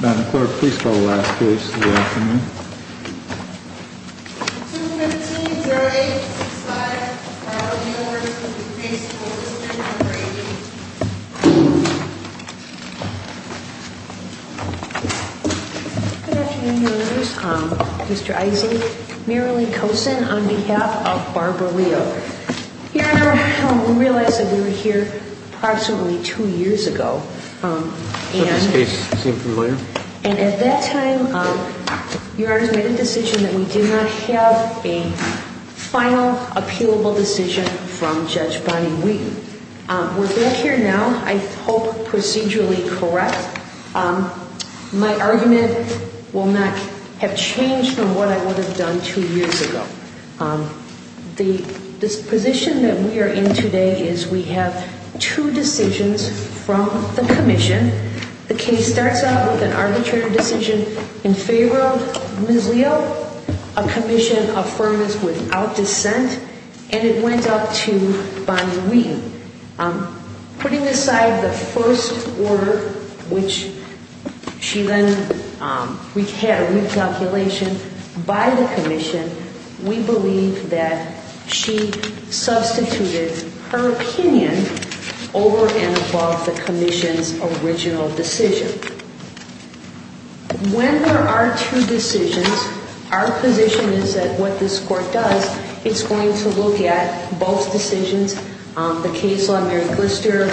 Madam Clerk, please call the last case of the afternoon. 215-08-65. All new orders will be placed for listening and writing. Good afternoon, Your Honors. Mr. Issa, Marilee Kosen on behalf of Barbara Leo. Your Honor, we realize that we were here approximately two years ago, and this case seemed familiar. And at that time, Your Honor, we made a decision that we did not have a final appealable decision from Judge Bonnie Wheaton. We're back here now. I hope procedurally correct. My argument will not have changed from what I would have done two years ago. The position that we are in today is we have two decisions from the commission. The case starts out with an arbitrary decision in favor of Ms. Leo. A commission affirms without dissent. And it went up to Bonnie Wheaton. Putting aside the first order, which she then had a recalculation by the commission, we believe that she substituted her opinion over and above the commission's original decision. When there are two decisions, our position is that what this court does, it's going to look at both decisions. The case law, Mary Glister,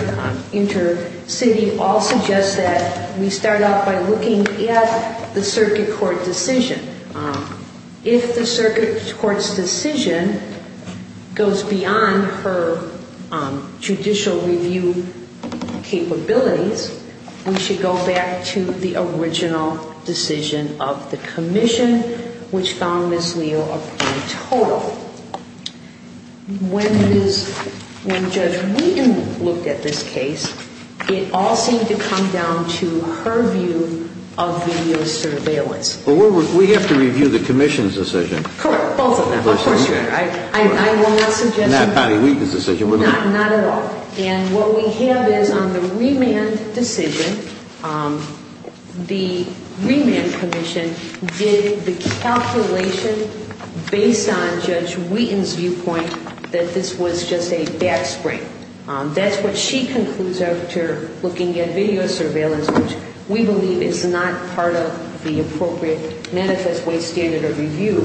InterCity, all suggest that we start out by looking at the circuit court decision. If the circuit court's decision goes beyond her judicial review capabilities, we should go back to the original decision of the commission, which found Ms. Leo a point total. When Judge Wheaton looked at this case, it all seemed to come down to her view of video surveillance. But we have to review the commission's decision. Correct, both of them. Of course we do. I will not suggest that. Not Bonnie Wheaton's decision. Not at all. And what we have is on the remand decision, the remand commission did the calculation based on Judge Wheaton's viewpoint that this was just a backspring. That's what she concludes after looking at video surveillance, which we believe is not part of the appropriate manifest way standard of review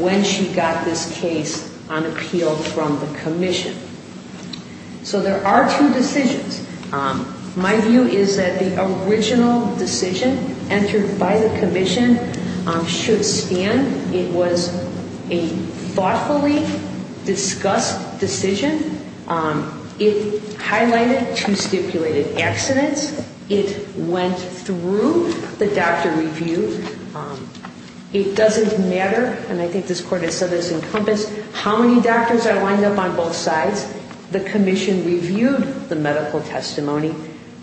when she got this case on appeal from the commission. So there are two decisions. My view is that the original decision entered by the commission should stand. It was a thoughtfully discussed decision. It highlighted two stipulated accidents. It went through the doctor review. It doesn't matter, and I think this court has said this encompassed, how many doctors are lined up on both sides. The commission reviewed the medical testimony,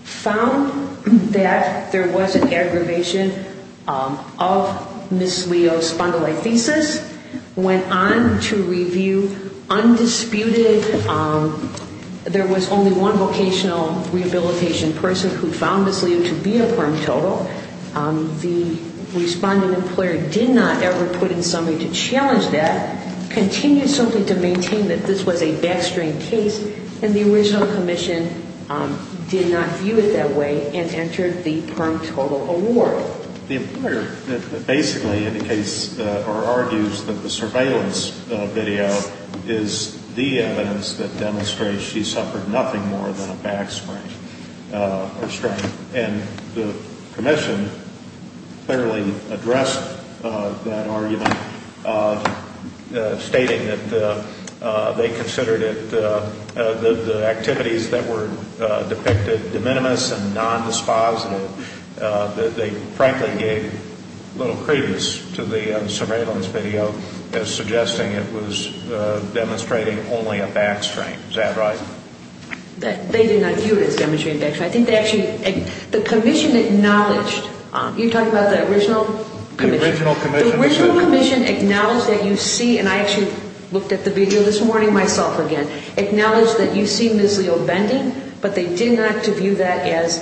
found that there was an aggravation of Ms. Leo's spondylolisthesis, went on to review undisputed, there was only one vocational rehabilitation person who found Ms. Leo to be a firm total. The respondent employer did not ever put in somebody to challenge that, continued simply to maintain that this was a backspring case, and the original commission did not view it that way and entered the firm total award. The employer basically indicates or argues that the surveillance video is the evidence that demonstrates she suffered nothing more than a backspring. And the commission clearly addressed that argument, stating that they considered it, the activities that were depicted de minimis and nondispositive, that they frankly gave little credence to the surveillance video as suggesting it was demonstrating only a backspring. Is that right? They did not view it as demonstrating a backspring. I think they actually, the commission acknowledged, you're talking about the original commission? The original commission. The original commission acknowledged that you see, and I actually looked at the video this morning myself again, acknowledged that you see Ms. Leo bending, but they did not view that as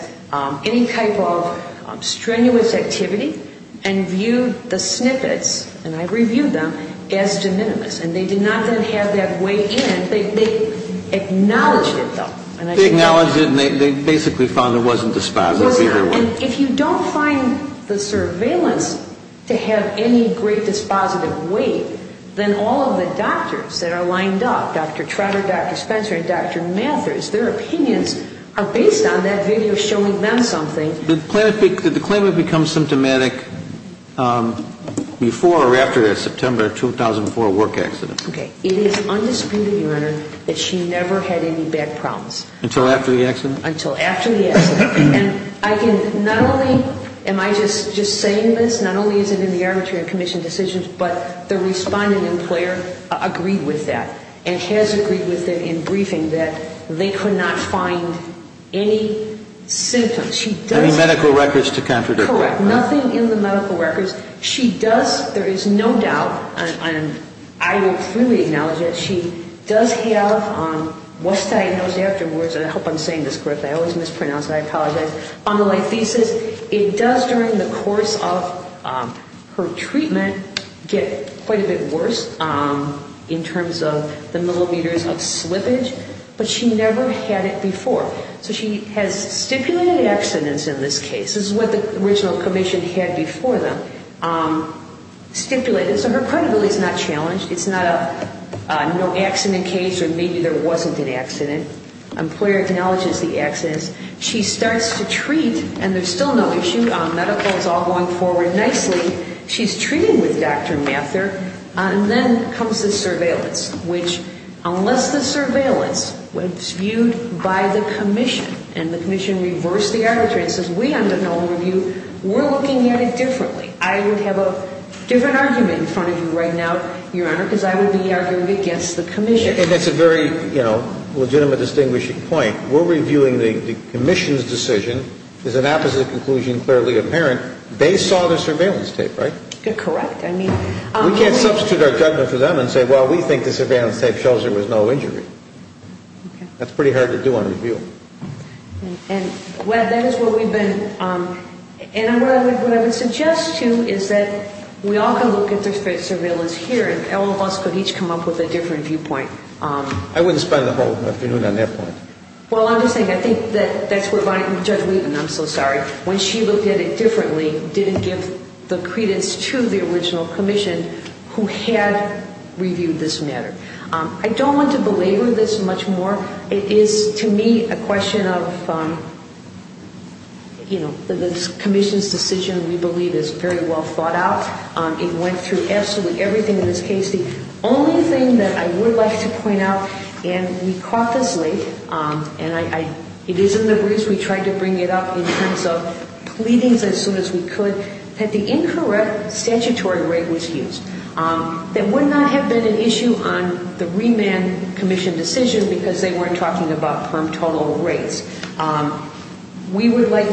any type of strenuous activity, and viewed the snippets, and I reviewed them, as de minimis. And they did not then have that weight in. They acknowledged it, though. They acknowledged it, and they basically found there wasn't dispositive either way. If you don't find the surveillance to have any great dispositive weight, then all of the doctors that are lined up, Dr. Trotter, Dr. Spencer, and Dr. Mathers, their opinions are based on that video showing them something. Did the claimant become symptomatic before or after the September 2004 work accident? Okay. It is undisputed, Your Honor, that she never had any back problems. Until after the accident? Until after the accident. And I can not only, am I just saying this, not only is it in the arbitration commission decisions, but the respondent and player agreed with that, and has agreed with it in briefing, that they could not find any symptoms. Any medical records to contradict that? Correct. Nothing in the medical records. She does, there is no doubt, and I will freely acknowledge that, she does have what's diagnosed afterwards, and I hope I'm saying this correctly. I always mispronounce it. I apologize. On the lithesis, it does during the course of her treatment get quite a bit worse in terms of the millimeters of slippage, but she never had it before. So she has stipulated accidents in this case. This is what the original commission had before them, stipulated. So her credibility is not challenged. It's not a no accident case, or maybe there wasn't an accident. Employer acknowledges the accidents. She starts to treat, and there's still no issue, medical is all going forward nicely. She's treating with Dr. Mather, and then comes the surveillance, which, unless the surveillance was viewed by the commission, and the commission reversed the arbitration and says, we under no other review, we're looking at it differently. I would have a different argument in front of you right now, Your Honor, because I would be arguing against the commission. And that's a very, you know, legitimate distinguishing point. We're reviewing the commission's decision. It's an opposite conclusion, clearly apparent. They saw the surveillance tape, right? Correct. We can't substitute our judgment for them and say, well, we think the surveillance tape shows there was no injury. Okay. That's pretty hard to do on review. And, Webb, that is what we've been – and what I would suggest to you is that we all can look at the surveillance here, and all of us could each come up with a different viewpoint. I wouldn't spend the whole afternoon on that point. Well, I'm just saying, I think that's where Bonnie – Judge Levin, I'm so sorry. When she looked at it differently, didn't give the credence to the original commission, who had reviewed this matter. I don't want to belabor this much more. It is, to me, a question of, you know, the commission's decision, we believe, is very well thought out. It went through absolutely everything in this case. The only thing that I would like to point out, and we caught this late, and it is in the briefs we tried to bring it up in terms of pleadings as soon as we could, that the incorrect statutory rate was used. That would not have been an issue on the remand commission decision because they weren't talking about perm total rates. We would like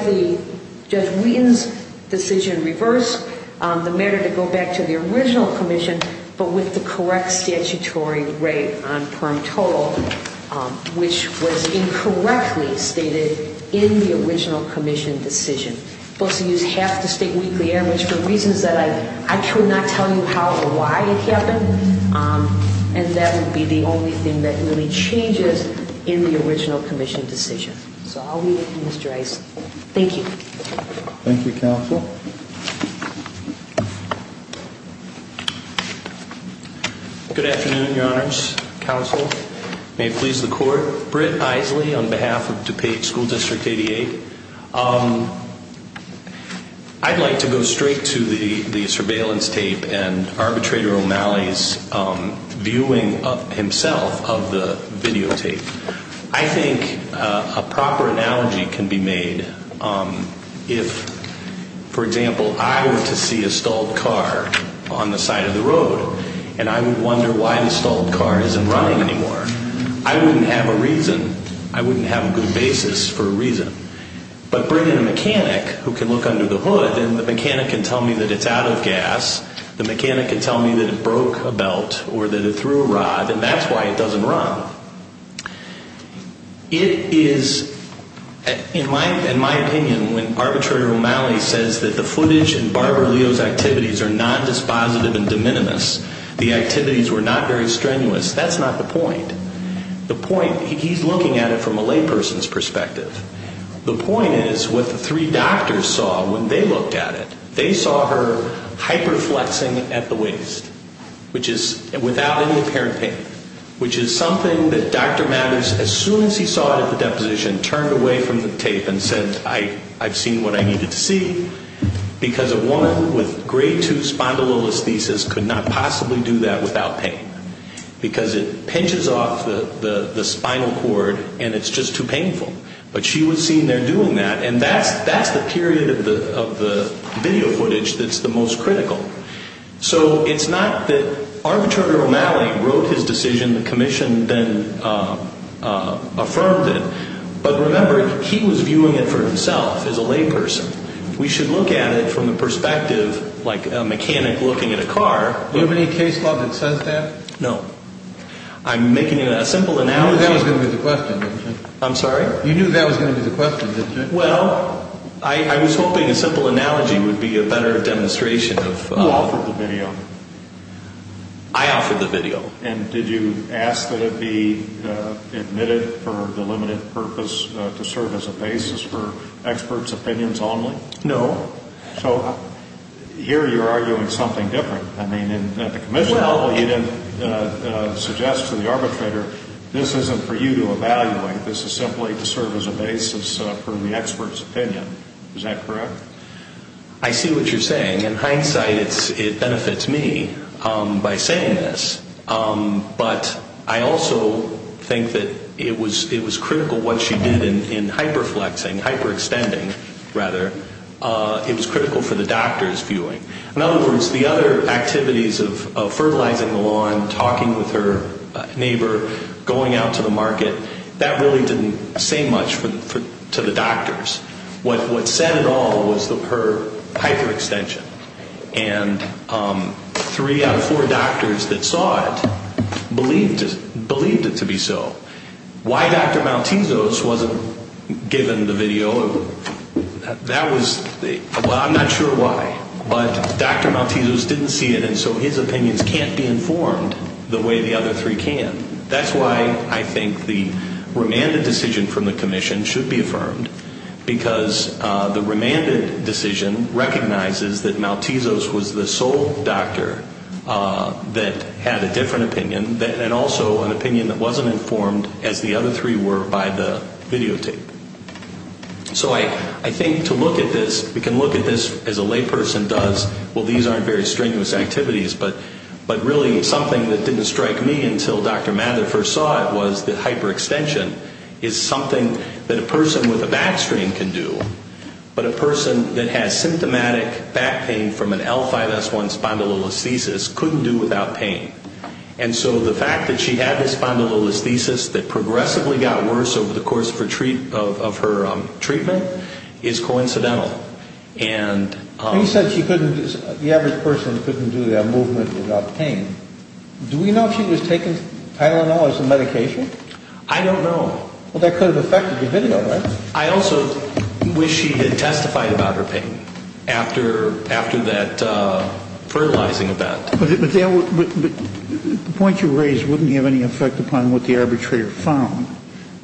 Judge Wheaton's decision reversed, the matter to go back to the original commission, but with the correct statutory rate on perm total, which was incorrectly stated in the original commission decision. Supposed to use half the state weekly average for reasons that I cannot tell you how or why it happened, and that would be the only thing that really changes in the original commission decision. So I'll leave it to Mr. Eisen. Thank you. Thank you, counsel. Good afternoon, your honors, counsel. May it please the court. Britt Isley on behalf of DuPage School District 88. I'd like to go straight to the surveillance tape and Arbitrator O'Malley's viewing himself of the videotape. I think a proper analogy can be made. If, for example, I were to see a stalled car on the side of the road and I would wonder why the stalled car isn't running anymore, I wouldn't have a reason. I wouldn't have a good basis for a reason. But bring in a mechanic who can look under the hood and the mechanic can tell me that it's out of gas, the mechanic can tell me that it broke a belt or that it threw a rod, and that's why it doesn't run. It is, in my opinion, when Arbitrator O'Malley says that the footage and Barbara Leo's activities are nondispositive and de minimis, the activities were not very strenuous, that's not the point. The point, he's looking at it from a layperson's perspective. The point is what the three doctors saw when they looked at it. They saw her hyperflexing at the waist, which is without any apparent pain, which is something that Dr. Mattis, as soon as he saw it at the deposition, turned away from the tape and said, I've seen what I needed to see, because a woman with grade 2 spondylolisthesis could not possibly do that without pain, because it pinches off the spinal cord and it's just too painful. But she was seen there doing that, and that's the period of the video footage that's the most critical. So it's not that Arbitrator O'Malley wrote his decision, the commission then affirmed it, but remember, he was viewing it for himself as a layperson. We should look at it from the perspective like a mechanic looking at a car. Do you have any case law that says that? I'm making a simple analogy. You knew that was going to be the question, didn't you? I'm sorry? You knew that was going to be the question, didn't you? Well, I was hoping a simple analogy would be a better demonstration of... Who offered the video? I offered the video. And did you ask that it be admitted for delimited purpose to serve as a basis for experts' opinions only? No. So here you're arguing something different. I mean, at the commission level you didn't suggest to the arbitrator, this isn't for you to evaluate, this is simply to serve as a basis for the expert's opinion. Is that correct? I see what you're saying. In hindsight, it benefits me by saying this, but I also think that it was critical what she did in hyperflexing, hyperextending, rather. It was critical for the doctor's viewing. In other words, the other activities of fertilizing the lawn, talking with her neighbor, going out to the market, that really didn't say much to the doctors. What said it all was her hyperextension. And three out of four doctors that saw it believed it to be so. Why Dr. Maltesos wasn't given the video, that was the... Well, I'm not sure why, but Dr. Maltesos didn't see it, and so his opinions can't be informed the way the other three can. That's why I think the remanded decision from the commission should be affirmed, because the remanded decision recognizes that Maltesos was the sole doctor that had a different opinion and also an opinion that wasn't informed as the other three were by the videotape. So I think to look at this, we can look at this as a layperson does, well, these aren't very strenuous activities, but really something that didn't strike me until Dr. Mather first saw it was that hyperextension is something that a person with a back strain can do, but a person that has symptomatic back pain from an L5S1 spondylolisthesis couldn't do without pain. And so the fact that she had this spondylolisthesis that progressively got worse over the course of her treatment is coincidental. And he said the average person couldn't do that movement without pain. Do we know if she was taking Tylenol as a medication? I don't know. Well, that could have affected your video, right? I also wish she had testified about her pain after that fertilizing event. But the point you raised wouldn't have any effect upon what the arbitrator found.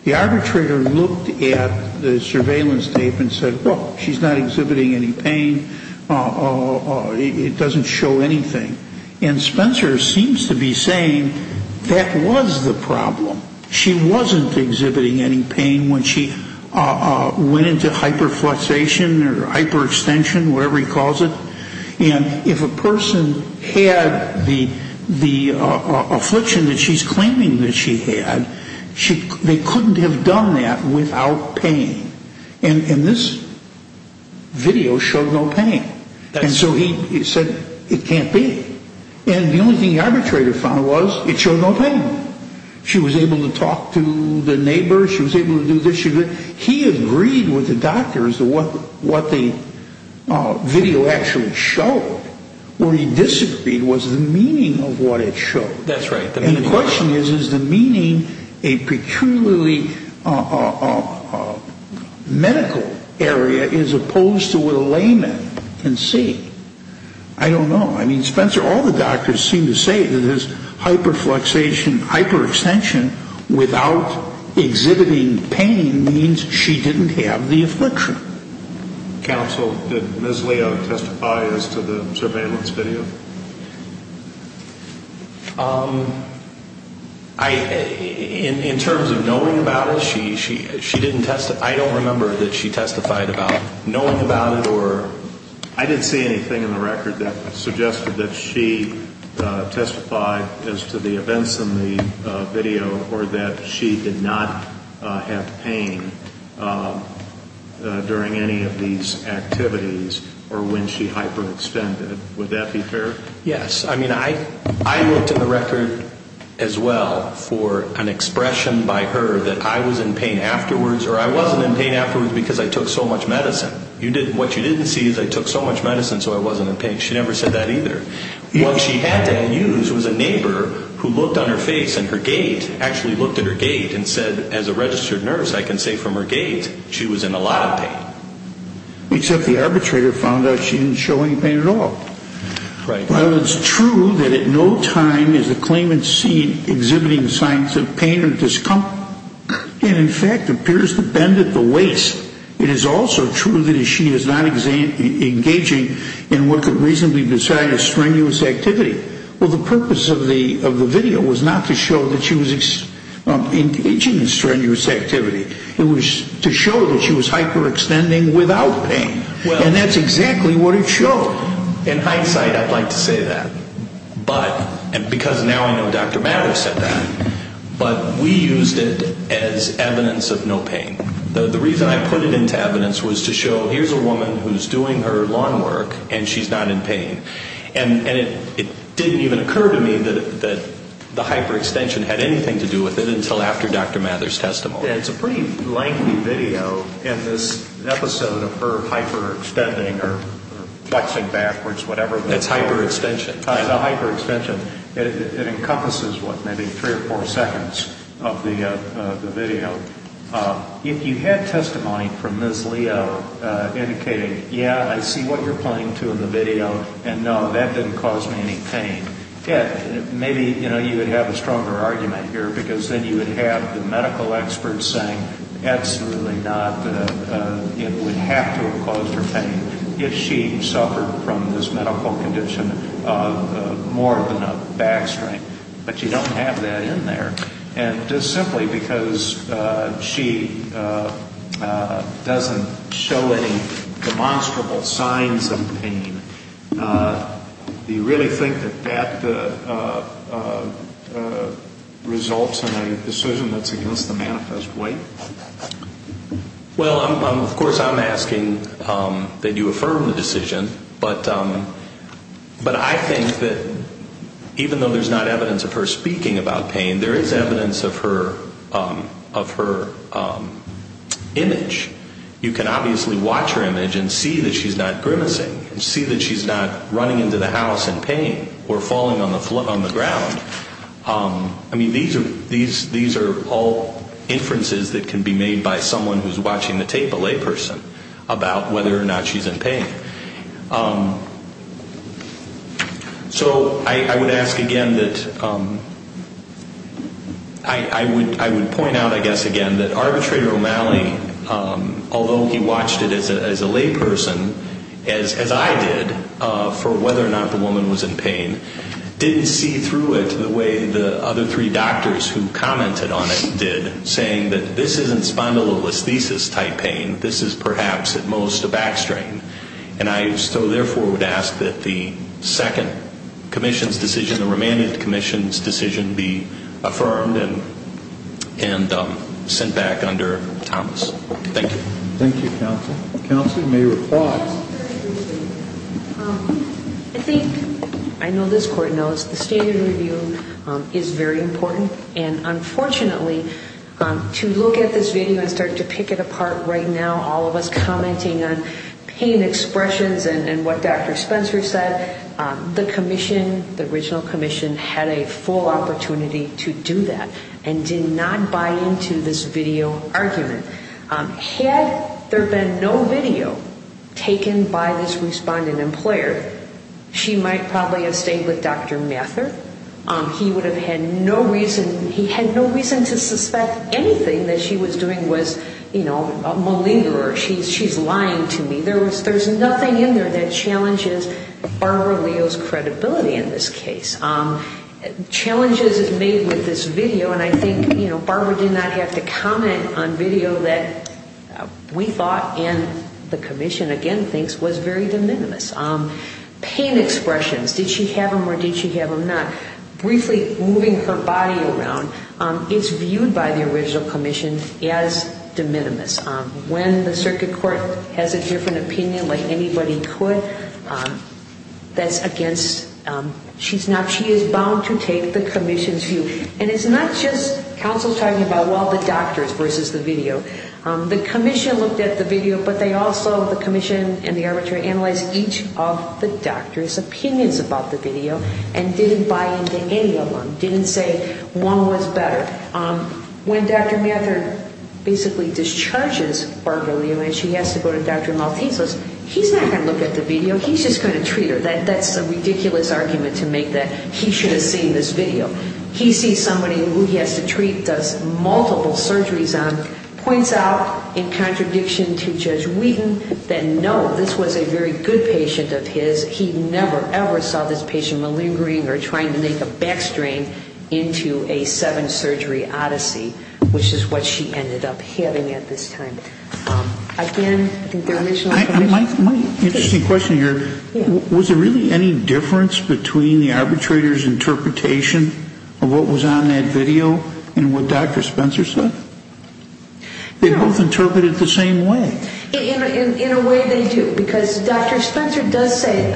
The arbitrator looked at the surveillance tape and said, well, she's not exhibiting any pain. It doesn't show anything. And Spencer seems to be saying that was the problem. She wasn't exhibiting any pain when she went into hyperflexation or hyperextension, whatever he calls it. And if a person had the affliction that she's claiming that she had, they couldn't have done that without pain. And this video showed no pain. And so he said it can't be. And the only thing the arbitrator found was it showed no pain. She was able to talk to the neighbor. She was able to do this. He agreed with the doctors what the video actually showed. What he disagreed was the meaning of what it showed. And the question is, is the meaning a peculiarly medical area as opposed to what a layman can see? I don't know. I mean, Spencer, all the doctors seem to say that there's hyperflexation, hyperextension without exhibiting pain means she didn't have the affliction. Counsel, did Ms. Leo testify as to the surveillance video? In terms of knowing about it, she didn't testify. I don't remember that she testified about knowing about it or ‑‑ I didn't see anything in the record that suggested that she testified as to the events in the video or that she did not have pain during any of these activities or when she hyperextended. Would that be fair? Yes. I mean, I looked in the record as well for an expression by her that I was in pain afterwards or I wasn't in pain afterwards because I took so much medicine. What you didn't see is I took so much medicine so I wasn't in pain. She never said that either. What she had to use was a neighbor who looked on her face and her gate, actually looked at her gate and said, as a registered nurse, I can say from her gate she was in a lot of pain. Except the arbitrator found out she didn't show any pain at all. Right. While it's true that at no time is the claimant seen exhibiting signs of pain or discomfort and, in fact, appears to bend at the waist, it is also true that she is not engaging in what could reasonably be described as strenuous activity. Well, the purpose of the video was not to show that she was engaging in strenuous activity. It was to show that she was hyperextending without pain. And that's exactly what it showed. In hindsight, I'd like to say that because now I know Dr. Maddow said that. But we used it as evidence of no pain. The reason I put it into evidence was to show here's a woman who's doing her lawn work and she's not in pain. And it didn't even occur to me that the hyperextension had anything to do with it until after Dr. Maddow's testimony. It's a pretty lengthy video, and this episode of her hyperextending or flexing backwards, whatever. It's hyperextension. It encompasses, what, maybe three or four seconds of the video. If you had testimony from Ms. Leo indicating, yeah, I see what you're pointing to in the video, and no, that didn't cause me any pain, maybe, you know, you would have a stronger argument here because then you would have the medical experts saying absolutely not. It would have to have caused her pain. If she suffered from this medical condition of more than a back strain. But you don't have that in there. And just simply because she doesn't show any demonstrable signs of pain, do you really think that that results in a decision that's against the manifest way? Well, of course, I'm asking that you affirm the decision, but I think that even though there's not evidence of her speaking about pain, there is evidence of her image. You can obviously watch her image and see that she's not grimacing, see that she's not running into the house in pain or falling on the ground. I mean, these are all inferences that can be made by someone who's watching the tape, a layperson, about whether or not she's in pain. So I would ask again that I would point out, I guess, again, that Arbitrator O'Malley, although he watched it as a layperson, as I did, for whether or not the woman was in pain, didn't see through it the way the other three doctors who commented on it did, saying that this isn't spondylolisthesis-type pain, this is perhaps at most a back strain. And I so therefore would ask that the second Commission's decision, the remanded Commission's decision, be affirmed and sent back under Thomas. Thank you. Thank you, Counsel. Counsel, you may reply. I think, I know this Court knows, the standard review is very important. And unfortunately, to look at this video and start to pick it apart right now, all of us commenting on pain expressions and what Dr. Spencer said, the Commission, the original Commission, had a full opportunity to do that and did not buy into this video argument. Had there been no video taken by this respondent employer, she might probably have stayed with Dr. Mathur. He would have had no reason, he had no reason to suspect anything that she was doing was, you know, a malingerer. She's lying to me. There's nothing in there that challenges Barbara Leo's credibility in this case. Challenges is made with this video. And I think, you know, Barbara did not have to comment on video that we thought and the Commission, again, thinks was very de minimis. Pain expressions, did she have them or did she have them not, briefly moving her body around is viewed by the original Commission as de minimis. When the circuit court has a different opinion like anybody could, that's against, she's not, she is bound to take the Commission's view. And it's not just counsel talking about, well, the doctors versus the video. The Commission looked at the video, but they also, the Commission and the arbitrator, analyzed each of the doctors' opinions about the video and didn't buy into any of them, didn't say one was better. When Dr. Mathur basically discharges Barbara Leo and she has to go to Dr. Maltese, he's not going to look at the video, he's just going to treat her. That's a ridiculous argument to make that he should have seen this video. He sees somebody who he has to treat, does multiple surgeries on, points out in contradiction to Judge Wheaton that, no, this was a very good patient of his. He never, ever saw this patient malingering or trying to make a back strain into a seven-surgery odyssey, which is what she ended up having at this time. Again, I think the original Commission. My interesting question here, was there really any difference between the arbitrator's interpretation of what was on that video and what Dr. Spencer said? They both interpreted it the same way. In a way they do, because Dr. Spencer does say,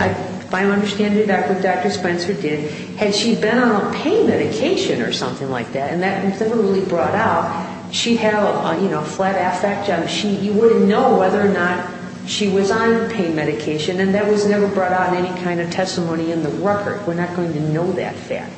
my understanding of what Dr. Spencer did, had she been on a pain medication or something like that, and that was never really brought out, she'd have a flat-ass fat junk. You wouldn't know whether or not she was on pain medication, and that was never brought out in any kind of testimony in the record. We're not going to know that fact.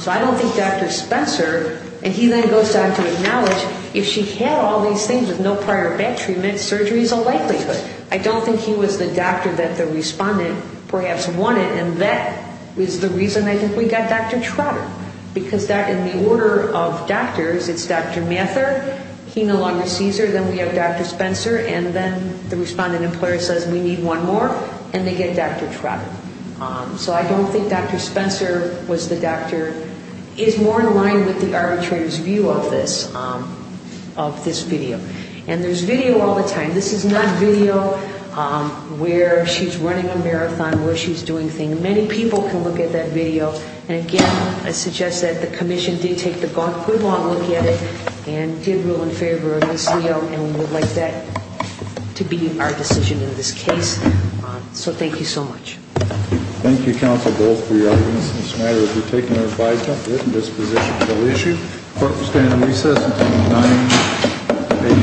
So I don't think Dr. Spencer, and he then goes on to acknowledge, if she had all these things with no prior back treatment, surgery is a likelihood. I don't think he was the doctor that the respondent perhaps wanted, and that was the reason I think we got Dr. Trotter, because that, in the order of doctors, it's Dr. Mather, he no longer sees her, then we have Dr. Spencer, and then the respondent employer says, we need one more, and they get Dr. Trotter. So I don't think Dr. Spencer was the doctor. It's more in line with the arbitrator's view of this, of this video. And there's video all the time. This is not video where she's running a marathon, where she's doing things. And many people can look at that video. And, again, I suggest that the commission did take a good, long look at it and did rule in favor of Ms. Leo, and we would like that to be our decision in this case. So thank you so much. Thank you, counsel, both for your arguments. This matter will be taken under advisement. This position shall issue. Court will stand in recess until 9 a.m. tomorrow morning.